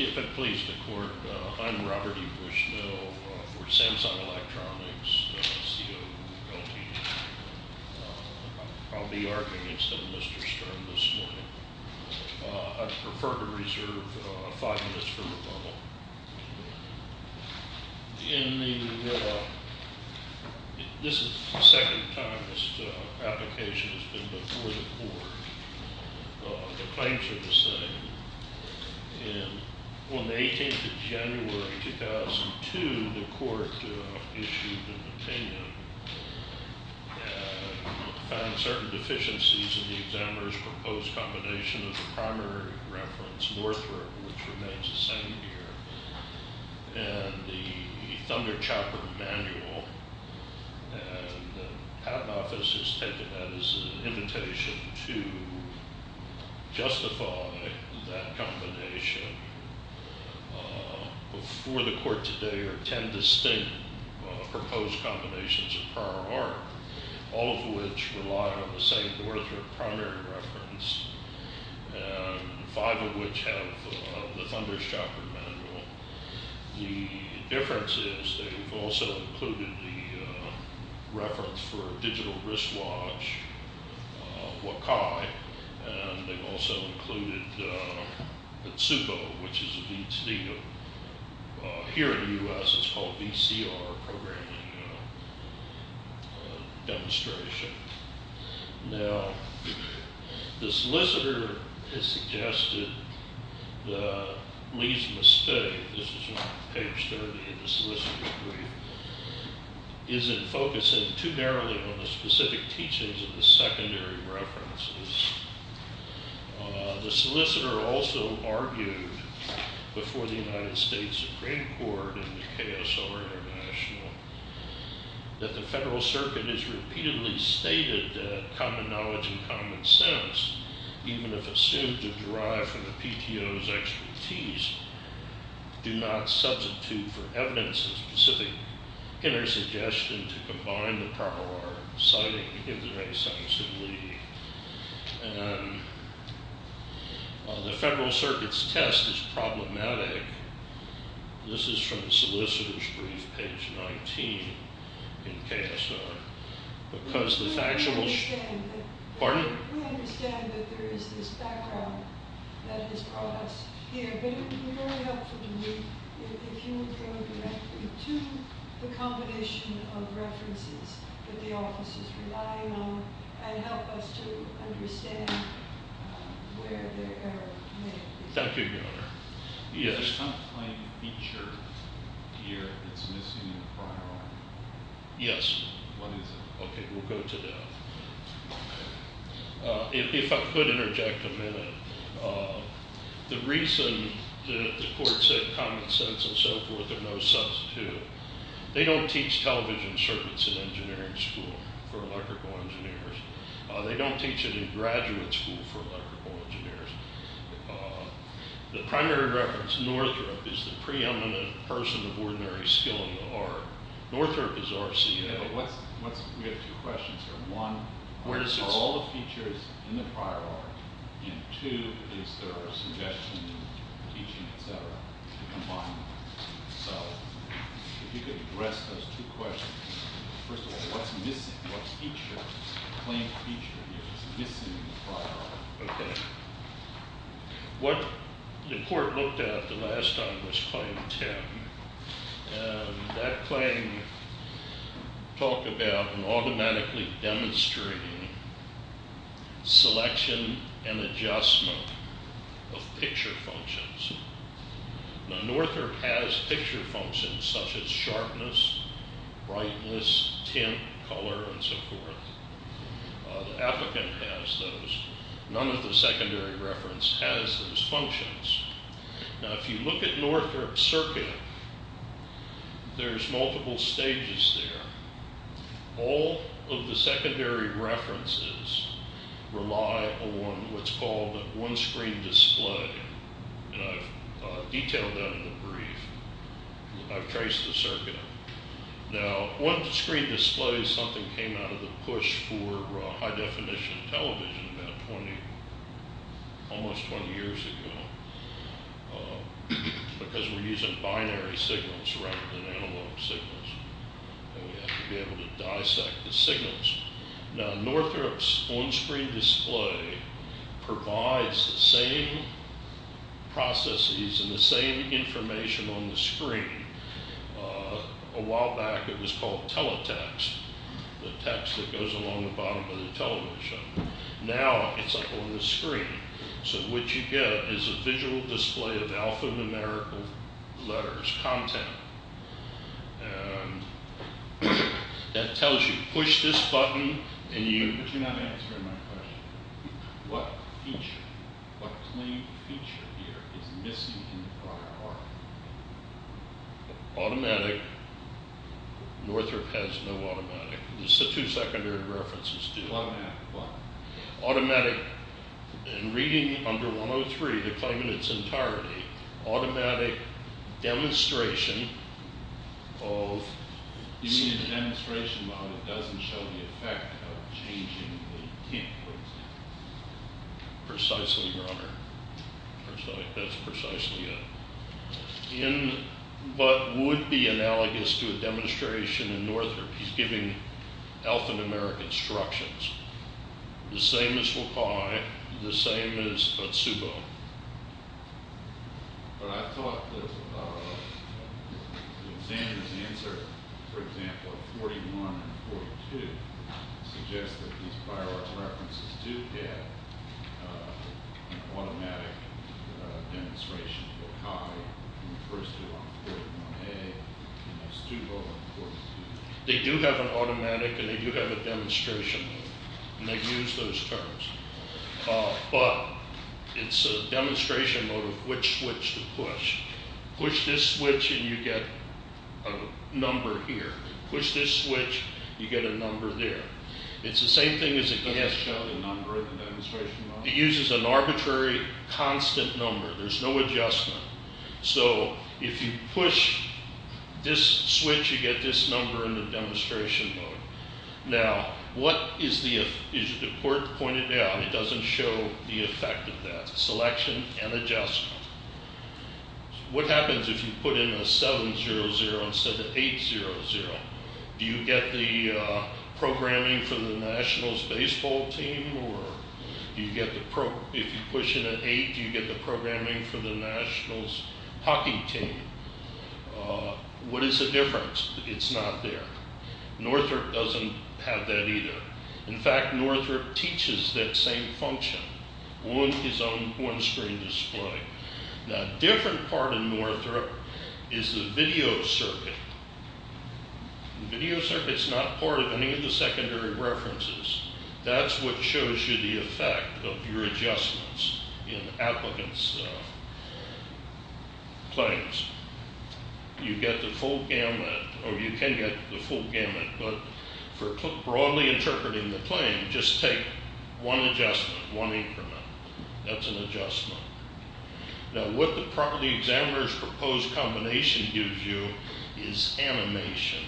If it please the court, I'm Robert E. Bushnell for Samsung Electronics, CEO of Goldfinch. I'll be arguing instead of Mr. Stern this morning. I'd prefer to reserve five minutes for rebuttal. In the, this is the second time this application has been before the court. The claims are the same. On the 18th of January, 2002, the court issued an opinion and found certain deficiencies in the examiner's proposed combination of the primary reference Northrop, which remains the same here, and the Thunder Chopper manual, and the Patent Office has taken that as an invitation to justify that combination. Before the court today are ten distinct proposed combinations of prior art, all of which rely on the same Northrop primary reference, and five of which have the Thunder Chopper manual. The difference is they've also included the reference for a digital wristwatch, Wakai, and they've also included Tsubo, which is a VCD. Here in the U.S. it's called VCR programming demonstration. Now, the solicitor has suggested Lee's mistake, this is on page 30 of the solicitor's brief, is in focusing too narrowly on the specific teachings of the secondary references. The solicitor also argued before the United States Supreme Court and the KSR International, that the Federal Circuit has repeatedly stated that common knowledge and common sense, even if assumed to derive from the PTO's expertise, do not substitute for evidence of specific inner suggestion to combine the primary art of citing. The Federal Circuit's test is problematic, this is from the solicitor's brief, page 19, in KSR, because the factual... But it would be very helpful to me if you would go directly to the combination of references that the office is relying on, and help us to understand where they are. Thank you, Your Honor. Yes. Is there some plain feature here that's missing in the primary art? Yes. What is it? Okay, we'll go to that. If I could interject a minute. The reason that the court said common sense and so forth are no substitute. They don't teach television circuits in engineering school for electrical engineers. They don't teach it in graduate school for electrical engineers. The primary reference, Northrop, is the preeminent person of ordinary skill in the art. Northrop is our CAO. We have two questions here. One, what are all the features in the primary art? And two, is there a suggestion in teaching, et cetera, to combine them? So if you could address those two questions. First of all, what's missing? What feature, plain feature, is missing in the primary art? Okay. What the court looked at the last time was claim 10. That claim talked about an automatically demonstrating selection and adjustment of picture functions. Now, Northrop has picture functions such as sharpness, brightness, tint, color, and so forth. The applicant has those. None of the secondary reference has those functions. Now, if you look at Northrop's circuit, there's multiple stages there. All of the secondary references rely on what's called a one-screen display. And I've detailed that in the brief. I've traced the circuit. Now, one-screen display is something that came out of the push for high-definition television about 20, almost 20 years ago because we're using binary signals rather than analog signals. And we have to be able to dissect the signals. Now, Northrop's one-screen display provides the same processes and the same information on the screen. A while back, it was called teletext, the text that goes along the bottom of the television. Now, it's up on the screen. So what you get is a visual display of alphanumerical letters, content. And that tells you, push this button, and you— But you're not answering my question. What feature, what claim feature here is missing in the prior article? Automatic. Northrop has no automatic. There's the two secondary references, too. Automatic what? Automatic. In reading under 103, the claim in its entirety, automatic demonstration of— You mean the demonstration model doesn't show the effect of changing the key, for example? Precisely, Your Honor. That's precisely it. In what would be analogous to a demonstration in Northrop, he's giving alphanumeric instructions. The same as Wakai, the same as Otsubo. But I thought that the examiner's answer, for example, of 41 and 42, suggests that these prior article references do have an automatic demonstration of Wakai, and the first two are on 41A, and those two go on 42B. They do have an automatic, and they do have a demonstration, and they use those terms. But it's a demonstration mode of which switch to push. Push this switch, and you get a number here. Push this switch, you get a number there. It's the same thing as it gets— It doesn't show the number in the demonstration model? It uses an arbitrary constant number. There's no adjustment. So if you push this switch, you get this number in the demonstration mode. Now, as the court pointed out, it doesn't show the effect of that selection and adjustment. What happens if you put in a 7-0-0 instead of 8-0-0? Do you get the programming for the Nationals baseball team? If you push in an 8, do you get the programming for the Nationals hockey team? What is the difference? It's not there. Northrop doesn't have that either. In fact, Northrop teaches that same function on his own on-screen display. Now, a different part in Northrop is the video circuit. The video circuit's not part of any of the secondary references. That's what shows you the effect of your adjustments in applicants' claims. You get the full gamut, or you can get the full gamut, but for broadly interpreting the claim, just take one adjustment, one increment. That's an adjustment. Now, what the property examiner's proposed combination gives you is animation.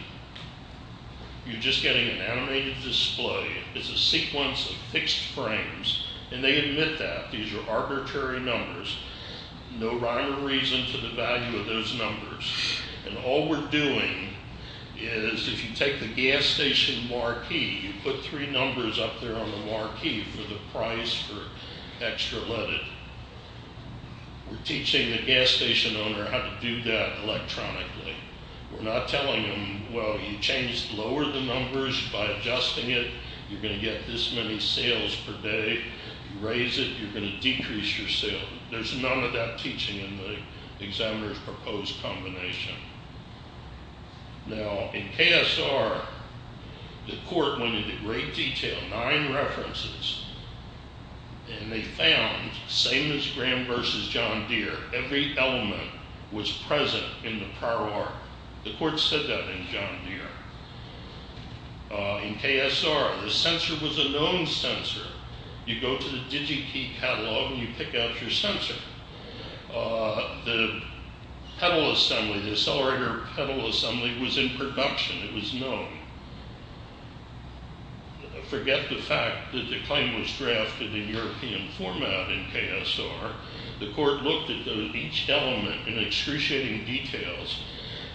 You're just getting an animated display. It's a sequence of fixed frames, and they admit that. These are arbitrary numbers. No rhyme or reason to the value of those numbers. All we're doing is if you take the gas station marquee, you put three numbers up there on the marquee for the price for extra leaded. We're teaching the gas station owner how to do that electronically. We're not telling them, well, you change lower the numbers by adjusting it. You're going to get this many sales per day. You raise it, you're going to decrease your sale. There's none of that teaching in the examiner's proposed combination. Now, in KSR, the court went into great detail, nine references, and they found, same as Graham versus John Deere, every element was present in the prior work. The court said that in John Deere. In KSR, the sensor was a known sensor. You go to the Digi-Key catalog, and you pick out your sensor. The pedal assembly, the accelerator pedal assembly, was in production. It was known. Forget the fact that the claim was drafted in European format in KSR. The court looked at each element in excruciating details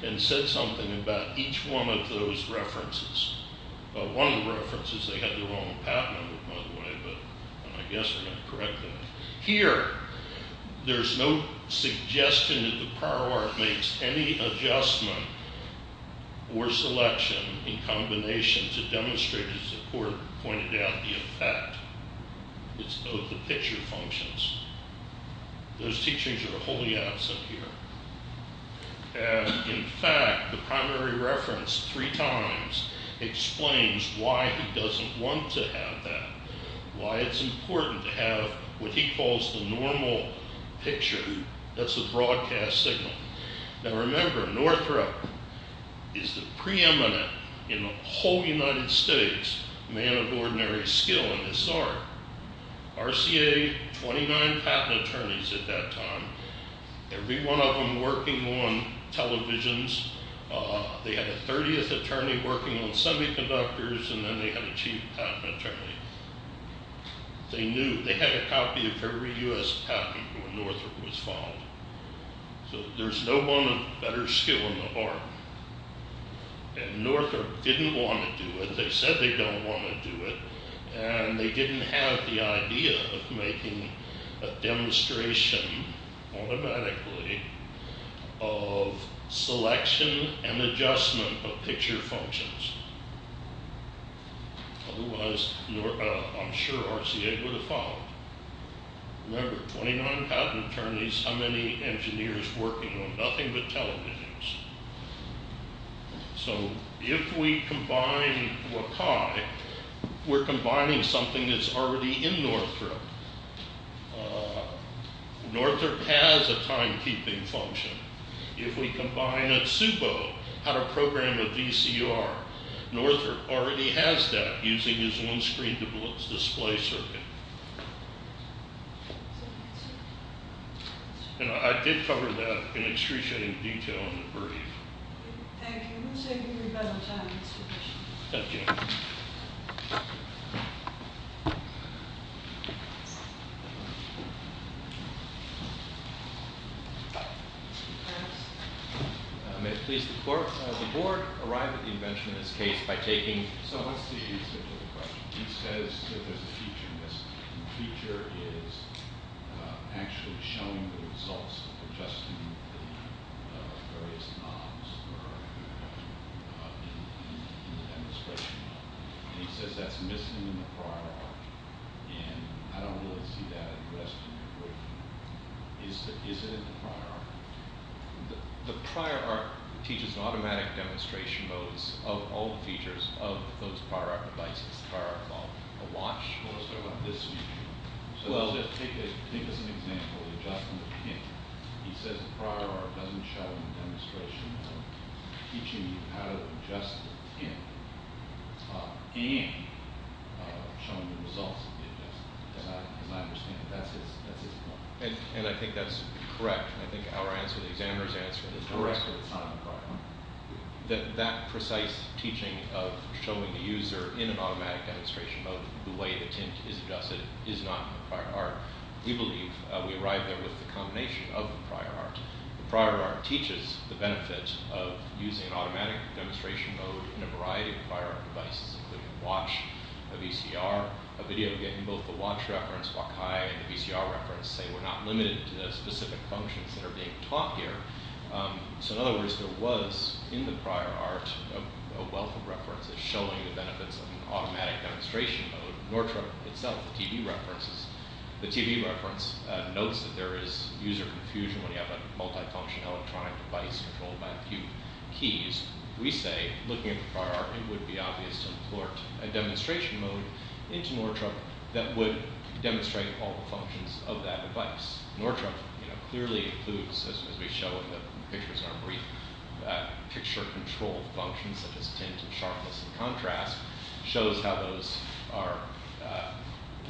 and said something about each one of those references. One of the references, they had their own patent on it, by the way, but I guess we're going to correct that. Here, there's no suggestion that the prior work makes any adjustment or selection in combination to demonstrate, as the court pointed out, the effect of the picture functions. Those teachings are wholly absent here. In fact, the primary reference three times explains why he doesn't want to have that, why it's important to have what he calls the normal picture. That's a broadcast signal. Now, remember, Northrop is the preeminent in the whole United States man of ordinary skill in this art. RCA, 29 patent attorneys at that time. Every one of them working on televisions. They had a 30th attorney working on semiconductors, and then they had a chief patent attorney. They knew. They had a copy of every U.S. patent when Northrop was filed. So there's no one better skill in the art. And Northrop didn't want to do it. They said they don't want to do it. And they didn't have the idea of making a demonstration automatically of selection and adjustment of picture functions. Otherwise, I'm sure RCA would have followed. Remember, 29 patent attorneys, how many engineers working on nothing but televisions? So if we combine WCAG, we're combining something that's already in Northrop. Northrop has a timekeeping function. If we combine a SUBO, how to program a VCR, Northrop already has that using his own screen display circuit. And I did cover that in excretion in detail in the brief. Thank you. We'll save you a lot of time. Thank you. May it please the court, the board arrived at the invention in this case by taking So what's the answer to the question? He says that there's a feature missing. The feature is actually showing the results of adjusting the various knobs in the demonstration. And he says that's missing in the prior art. And I don't really see that addressed in your brief. Is it in the prior art? The prior art teaches automatic demonstration modes of all the features of those prior art devices. The prior art is called a watch. Well, let's talk about this one. Take as an example the adjustment of the pin. He says the prior art doesn't show in the demonstration of teaching you how to adjust the pin and showing the results of the adjustment. As I understand it, that's his point. And I think that's correct. I think our answer, the examiner's answer is correct. That precise teaching of showing the user in an automatic demonstration mode the way the tint is adjusted is not in the prior art. We believe we arrived there with the combination of the prior art. The prior art teaches the benefit of using an automatic demonstration mode in a variety of prior art devices, including a watch, a VCR, a video game. In both the watch reference, Wakai, and the VCR reference say we're not limited to the specific functions that are being taught here. So in other words, there was in the prior art a wealth of references showing the benefits of an automatic demonstration mode. Nortrup itself, the TV reference, notes that there is user confusion when you have a multifunction electronic device controlled by a few keys. We say, looking at the prior art, it would be obvious to import a demonstration mode into Nortrup that would demonstrate all the functions of that device. Nortrup clearly includes, as we show in the pictures in our brief, picture control functions such as tint and sharpness and contrast. It shows how those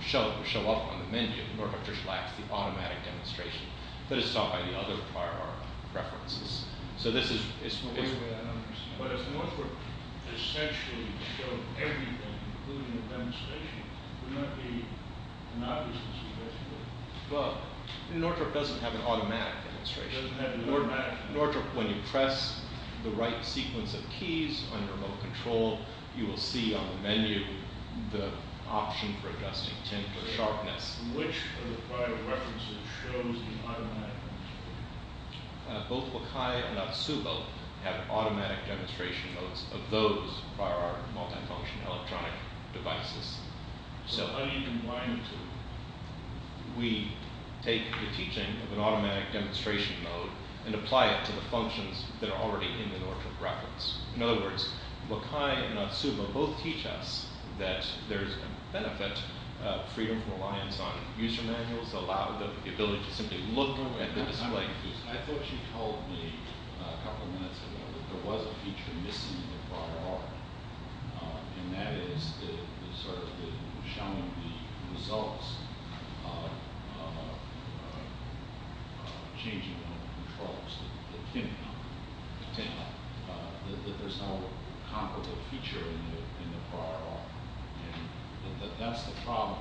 show up on the menu. Nortrup just lacks the automatic demonstration. But it's taught by the other prior art references. But if Nortrup essentially showed everything, including the demonstration, would that be an obvious consideration? Well, Nortrup doesn't have an automatic demonstration. Nortrup, when you press the right sequence of keys on your remote control, you will see on the menu the option for adjusting tint or sharpness. Which of the prior references shows the automatic demonstration? Both Wakai and Atsubo have automatic demonstration modes of those prior art multifunction electronic devices. How do you combine the two? We take the teaching of an automatic demonstration mode and apply it to the functions that are already in the Nortrup reference. In other words, Wakai and Atsubo both teach us that there is a benefit of freedom of reliance on user manuals that allow the ability to simply look at the display. I thought she told me a couple of minutes ago that there was a feature missing in the prior art. And that is sort of showing the results of changing remote controls. The tint knob. The tint knob. That there's no comparable feature in the prior art. And that's the problem.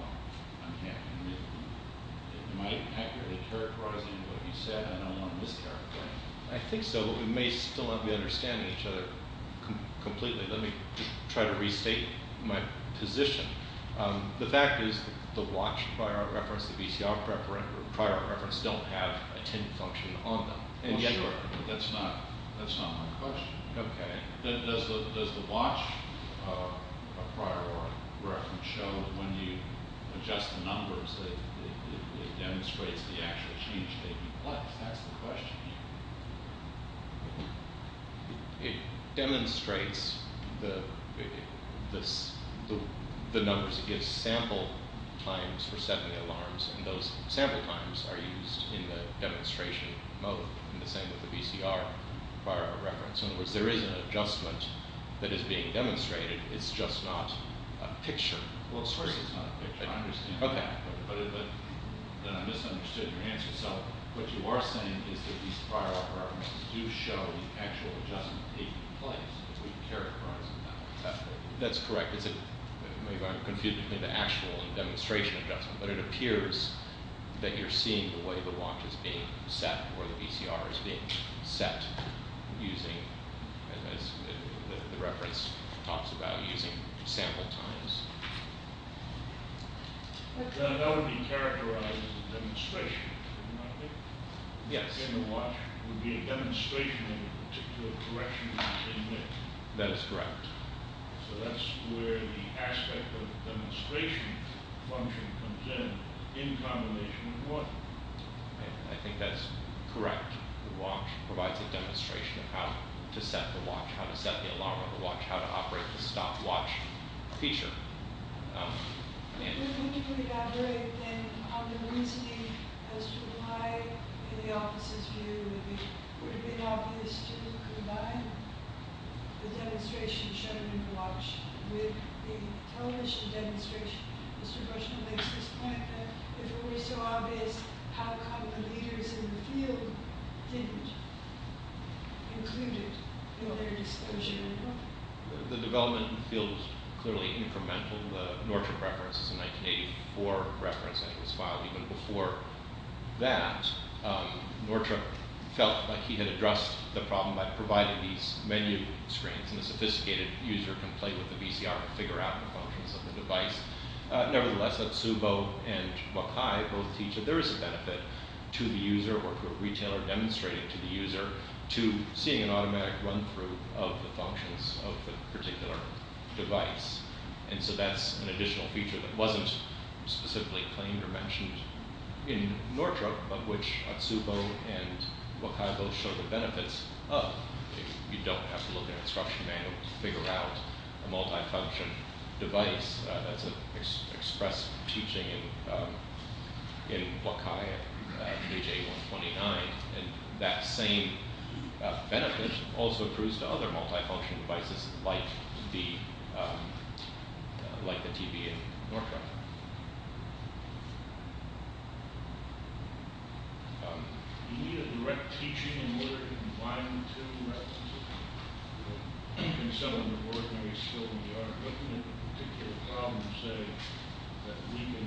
Am I accurately characterizing what you said? I don't want to mischaracterize it. I think so. We may still not be understanding each other completely. Let me try to restate my position. The fact is the watch prior art reference, the VCR prior art reference don't have a tint function on them. Well, sure. But that's not my question. Okay. Does the watch prior art reference show when you adjust the numbers it demonstrates the actual change taking place? That's the question here. It demonstrates the numbers. It gives sample times for setting the alarms. And those sample times are used in the demonstration mode in the same with the VCR prior art reference. In other words, there is an adjustment that is being demonstrated. It's just not a picture. Well, sorry. It's not a picture. I understand. Okay. But then I misunderstood your answer. Okay. So what you are saying is that these prior art references do show the actual adjustment taking place if we characterize them that way. That's correct. Maybe I'm confused between the actual and demonstration adjustment. But it appears that you're seeing the way the watch is being set or the VCR is being set using the reference talks about using sample times. That would be characterized as a demonstration, wouldn't it? Yes. The watch would be a demonstration in a particular direction. That is correct. So that's where the aspect of demonstration function comes in, in combination with what? I think that's correct. The watch provides a demonstration of how to set the watch, how to set the alarm on the watch, how to operate the stopwatch feature. If we're going to put it that way, then on the reasoning as to why in the office's view it would have been obvious to combine the demonstration shown in the watch with the television demonstration, Mr. Gershman makes this point that if it were so obvious, how come the leaders in the field didn't include it in their disclosure? The development in the field was clearly incremental. The Nordstrom reference is a 1984 reference and it was filed even before that. Nordstrom felt like he had addressed the problem by providing these menu screens and the sophisticated user can play with the VCR and figure out the functions of the device. Nevertheless, Atsubo and Wakai both teach that there is a benefit to the user or to a retailer demonstrating to the user to seeing an automatic run-through of the functions of the particular device. And so that's an additional feature that wasn't specifically claimed or mentioned in Nordstrom, but which Atsubo and Wakai both show the benefits of. You don't have to look at instruction manuals to figure out a multifunction device. That's expressed teaching in Wakai, page 8129. And that same benefit also proves to other multifunction devices like the TV in Nordstrom. Do you need a direct teaching in order to combine the two references? You can settle the work when you're skilled in the art of looking at the particular problem and say that we can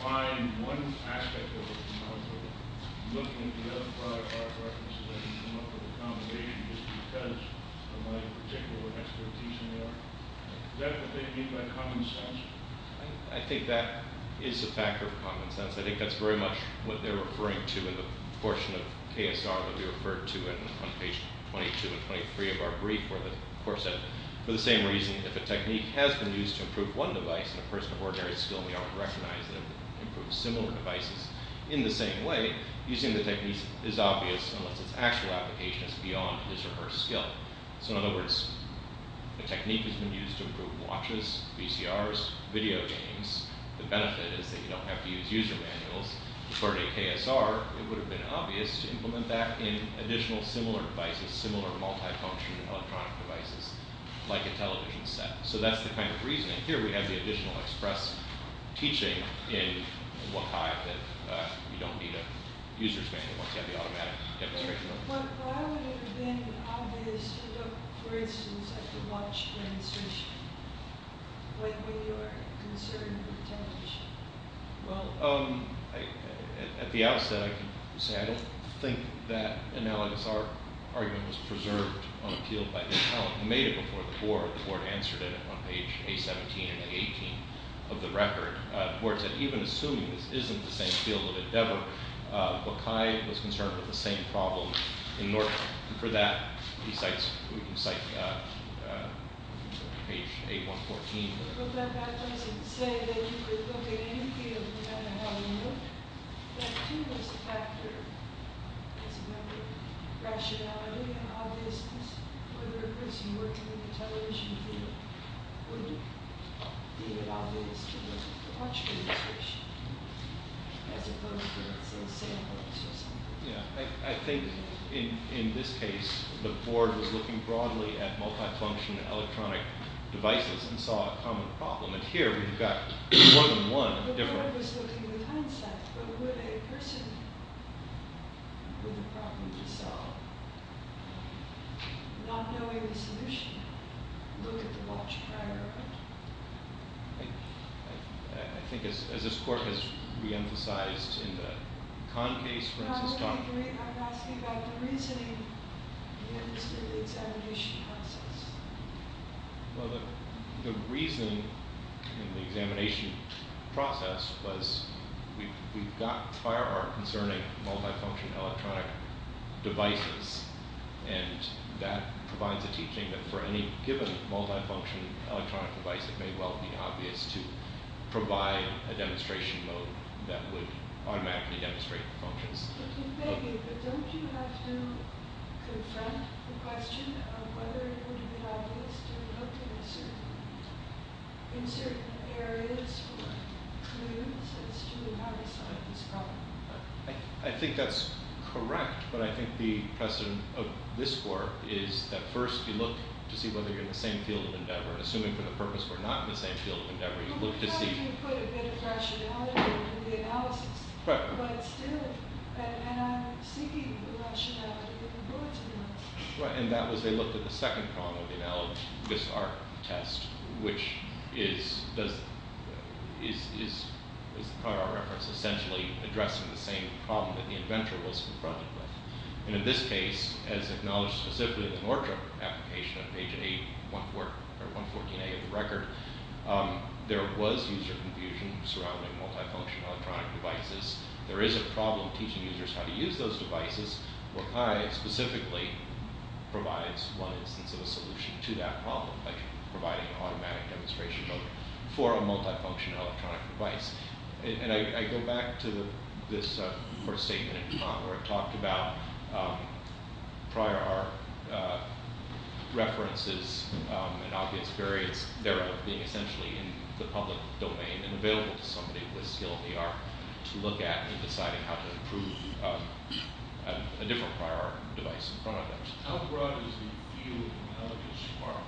find one aspect of it and not look at it. You can look at the other five art references and come up with a combination just because of my particular expertise in the art. Is that what they mean by common sense? I think that is a factor of common sense. I think that's very much what they're referring to in the portion of KSR that we referred to on page 22 and 23 of our brief where the court said, for the same reason, if a technique has been used to improve one device and a person of ordinary skill in the art would recognize that it improves similar devices in the same way, using the technique is obvious unless its actual application is beyond his or her skill. So in other words, a technique has been used to improve watches, VCRs, video games. The benefit is that you don't have to use user manuals. According to KSR, it would have been obvious to implement that in additional similar devices, similar multifunction electronic devices like a television set. So that's the kind of reasoning. Here we have the additional express teaching in WCAG that you don't need a user's manual. Why would it have been obvious to look, for instance, at the watch demonstration when we were concerned with the television? Well, at the outset, I can say I don't think that analogous art argument was preserved on appeal by the appellant. He made it before the court. The court answered it on page A-17 and A-18 of the record. The court said even assuming this isn't the same field of endeavor, Bokai was concerned with the same problem. In order for that, he cites page A-114. I think in this case, the board was looking broadly at multifunction electronic devices and saw a common problem. And here we've got more than one difference. The court was looking at the concept. But would a person with a problem to solve, not knowing the solution, look at the watch prior? I think as this court has reemphasized in the Conn case, for instance, Conn No, I'm asking about the reasoning in the examination process. Well, the reasoning in the examination process was we've got prior art concerning multifunction electronic devices. And that provides a teaching that for any given multifunction electronic device, it may well be obvious to provide a demonstration mode that would automatically demonstrate the functions. But don't you have to confront the question of whether it would be obvious to look in certain areas for clues as to how to solve this problem? I think that's correct. But I think the precedent of this court is that first you look to see whether you're in the same field of endeavor. Assuming for the purpose we're not in the same field of endeavor, you look to see You can put a bit of rationality in the analysis. But still, and I'm seeking the rationality of the court's analysis. Right, and that was they looked at the second column of the analogy, this art test, which is prior reference essentially addressing the same problem that the inventor was confronted with. And in this case, as acknowledged specifically in the Nordstrom application on page 8, 114A of the record, there was user confusion surrounding multifunction electronic devices. There is a problem teaching users how to use those devices. Well, CHI specifically provides one instance of a solution to that problem, like providing an automatic demonstration mode for a multifunction electronic device. And I go back to this first statement where it talked about prior art references and obvious variants thereof being essentially in the public domain and available to somebody with skill in the art to look at in deciding how to improve a different prior art device in front of them. How broad is the field of analogous art?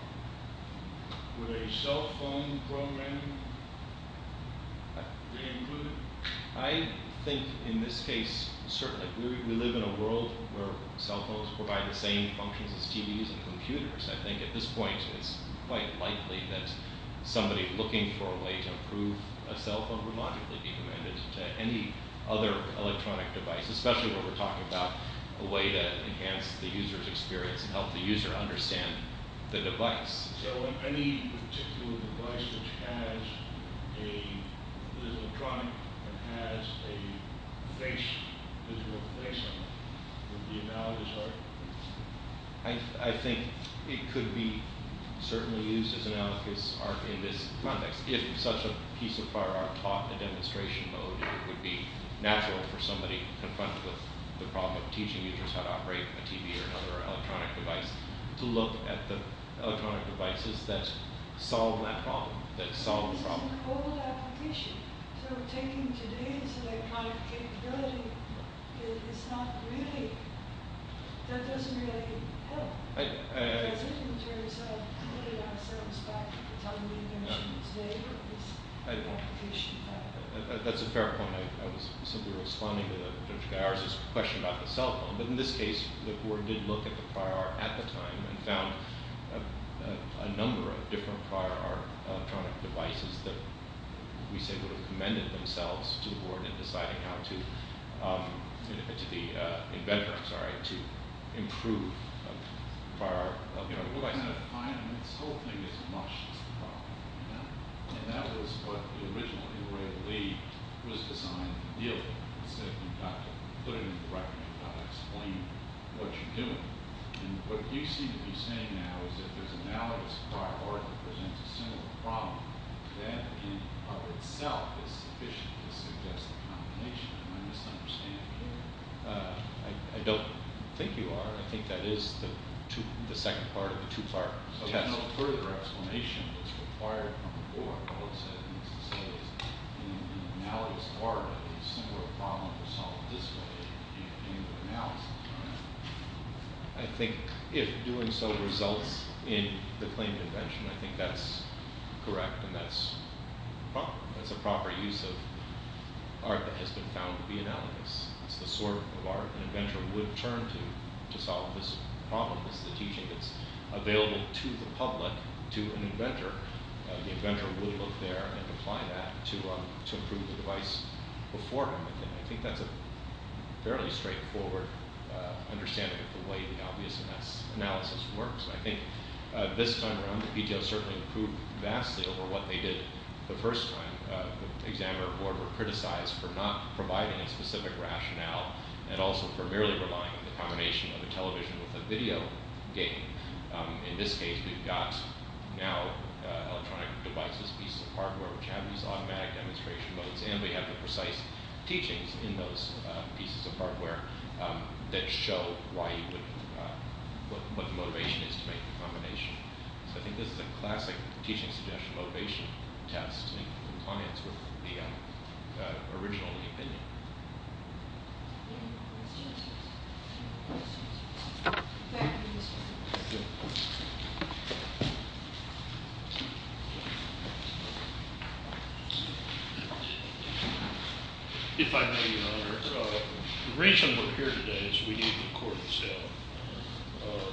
Would a cell phone program be included? I think in this case, certainly, we live in a world where cell phones provide the same functions as TVs and computers. I think at this point, it's quite likely that somebody looking for a way to improve a cell phone would logically be commanded to any other electronic device, especially what we're talking about, a way to enhance the user's experience and help the user understand the device. So any particular device which has an electronic and has a visual face on it would be analogous art? I think it could be certainly used as analogous art in this context. If such a piece of prior art taught a demonstration mode, it would be natural for somebody confronted with the problem of teaching users how to operate a TV or another electronic device to look at the electronic devices that solve that problem, that solve the problem. So taking today's electronic capability, that doesn't really help, does it, in terms of putting ourselves back to the time being mentioned today? That's a fair point. I was simply responding to the question about the cell phone, but in this case, the board did look at the prior art at the time and found a number of different prior art electronic devices that we say would have commended themselves to the board in deciding how to, to the inventor, sorry, to improve prior art. I'm trying to find this whole thing as much as possible. And that was what the original E-Ray Elite was designed to deal with. Instead of you've got to put it in the record, you've got to explain what you're doing. And what you seem to be saying now is if there's analogous prior art that presents a similar problem, that in and of itself is sufficient to suggest a combination of my misunderstanding here. I don't think you are. I think that is the second part of the two-part test. So no further explanation is required from the board. All it says is analogous prior art is similar problem to solve this way in the analysis. I think if doing so results in the claimed invention, I think that's correct. And that's a proper use of art that has been found to be analogous. It's the sort of art an inventor would turn to to solve this problem. It's the teaching that's available to the public, to an inventor. The inventor would look there and apply that to improve the device before him. And I think that's a fairly straightforward understanding of the way the obvious analysis works. I think this time around, the PTO certainly improved vastly over what they did the first time. The examiner board were criticized for not providing a specific rationale and also for merely relying on the combination of a television with a video game. In this case, we've got now electronic devices, pieces of hardware, which have these automatic demonstration modes. And we have the precise teachings in those pieces of hardware that show what the motivation is to make the combination. So I think this is a classic teaching suggestion motivation test in compliance with the original opinion. Any other questions? If I may, Your Honor, the reason we're here today is we need the court's help.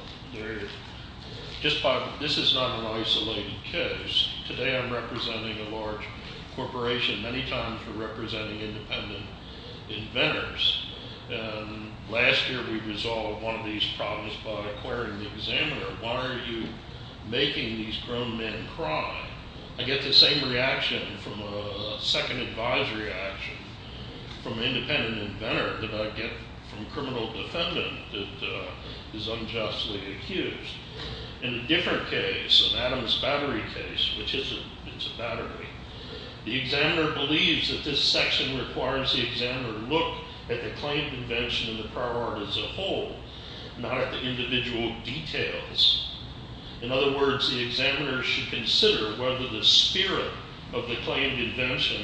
This is not an isolated case. Today I'm representing a large corporation. Many times we're representing independent inventors. And last year we resolved one of these problems by acquiring the examiner. Why are you making these grown men cry? I get the same reaction from a second advisory action from an independent inventor that I get from a criminal defendant that is unjustly accused. In a different case, an Adams Battery case, which is a battery, the examiner believes that this section requires the examiner look at the claimed invention and the prior art as a whole, not at the individual details. In other words, the examiner should consider whether the spirit of the claimed invention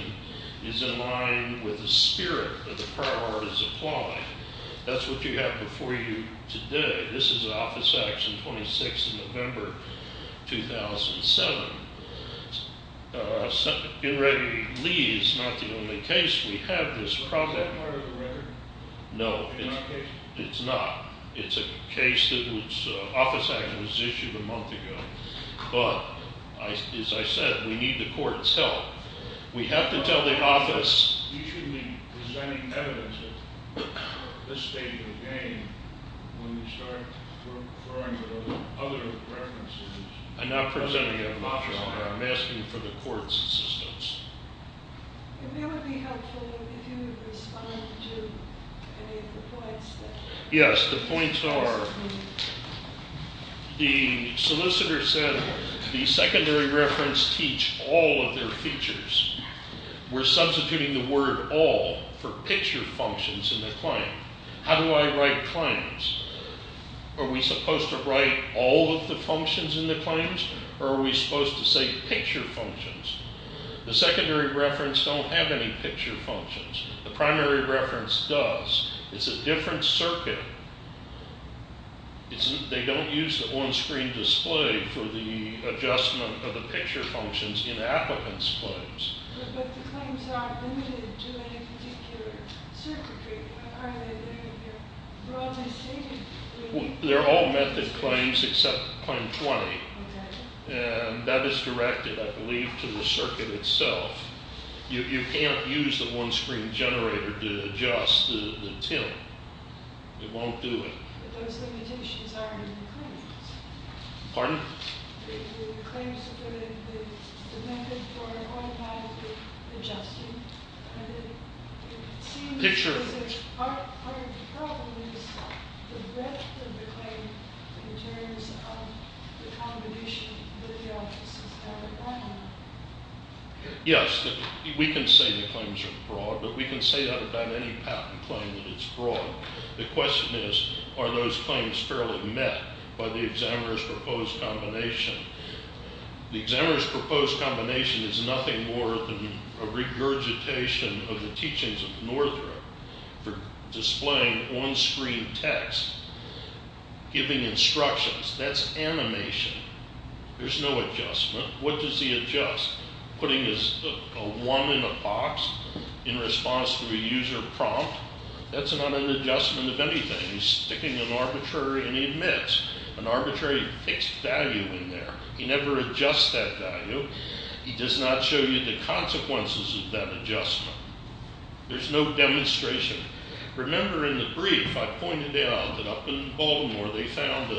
is in line with the spirit that the prior art is applying. That's what you have before you today. This is Office Action 26 in November 2007. In Reggie Lee's not the only case we have this problem. Is that part of the record? No. It's not. It's a case that Office Action was issued a month ago. But as I said, we need the court's help. We have to tell the office. You should be presenting evidence at this stage of the game when you start throwing the other references. I'm not presenting evidence. I'm asking for the court's assistance. And that would be helpful if you would respond to any of the points. Yes. The points are the solicitor said the secondary reference teach all of their features. We're substituting the word all for picture functions in the claim. How do I write claims? Are we supposed to write all of the functions in the claims or are we supposed to say picture functions? The secondary reference don't have any picture functions. The primary reference does. It's a different circuit. They don't use the on-screen display for the adjustment of the picture functions in applicants' claims. But the claims are limited to a particular circuitry. How are they limited? They're all method claims except claim 20. And that is directed, I believe, to the circuit itself. You can't use the one-screen generator to adjust the tint. It won't do it. But those limitations are in the claims. Pardon? The claims are limited to the method for automatically adjusting. Picture. Part of the problem is the breadth of the claim in terms of the combination of the offices. Yes, we can say the claims are broad, but we can say that about any patent claim that it's broad. The question is, are those claims fairly met by the examiner's proposed combination? The examiner's proposed combination is nothing more than a regurgitation of the teachings of Northrop for displaying on-screen text, giving instructions. That's animation. There's no adjustment. What does he adjust? Putting a 1 in a box in response to a user prompt? That's not an adjustment of anything. He's sticking an arbitrary and he admits an arbitrary fixed value in there. He never adjusts that value. He does not show you the consequences of that adjustment. There's no demonstration. Remember in the brief I pointed out that up in Baltimore they found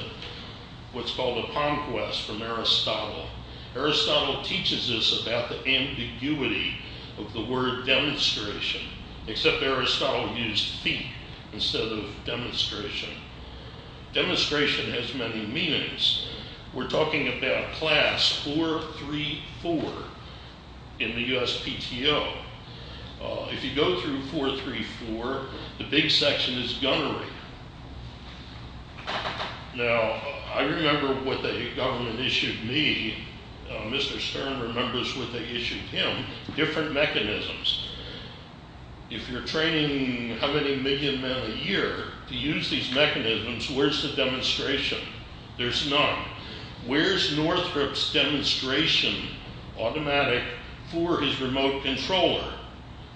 what's called a palm quest from Aristotle. Aristotle teaches us about the ambiguity of the word demonstration, except Aristotle used feet instead of demonstration. Demonstration has many meanings. We're talking about class 434 in the USPTO. If you go through 434, the big section is gunnery. Now, I remember what the government issued me. Mr. Stern remembers what they issued him, different mechanisms. If you're training how many million men a year to use these mechanisms, where's the demonstration? There's none. Where's Northrop's demonstration automatic for his remote controller?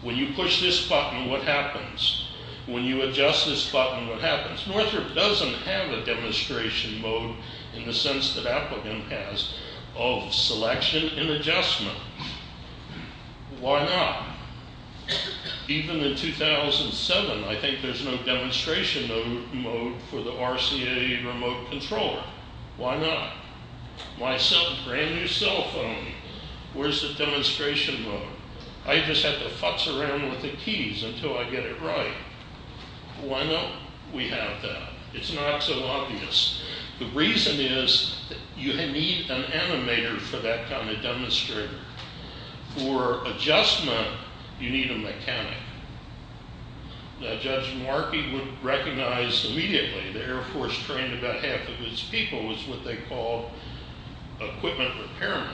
When you push this button, what happens? When you adjust this button, what happens? Northrop doesn't have a demonstration mode in the sense that Applegate has of selection and adjustment. Why not? Even in 2007, I think there's no demonstration mode for the RCA remote controller. Why not? My brand new cell phone, where's the demonstration mode? I just have to futz around with the keys until I get it right. Why don't we have that? It's not so obvious. The reason is you need an animator for that kind of demonstration. For adjustment, you need a mechanic. Judge Markey would recognize immediately the Air Force trained about half of its people was what they called equipment repairmen.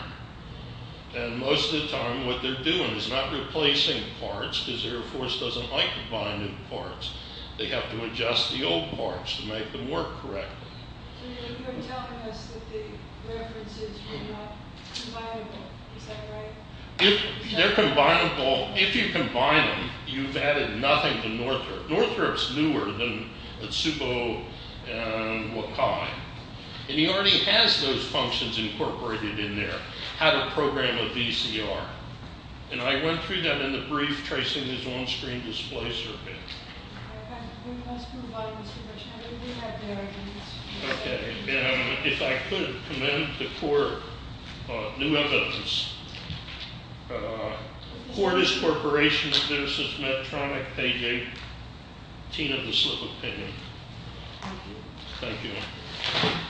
Most of the time, what they're doing is not replacing parts because the Air Force doesn't like to bind new parts. They have to adjust the old parts to make them work correctly. You're telling us that the references were not combinable. Is that right? If they're combinable, if you combine them, you've added nothing to Northrop. Northrop's newer than Tsubo and Wakai. He already has those functions incorporated in there. How to program a VCR. I went through that in the brief tracing his on-screen display circuit. We must move on, Mr. Bush. If I could commend the court. New evidence. Cordis Corporation vs. Medtronic. Page 18 of the slip of paper. Thank you.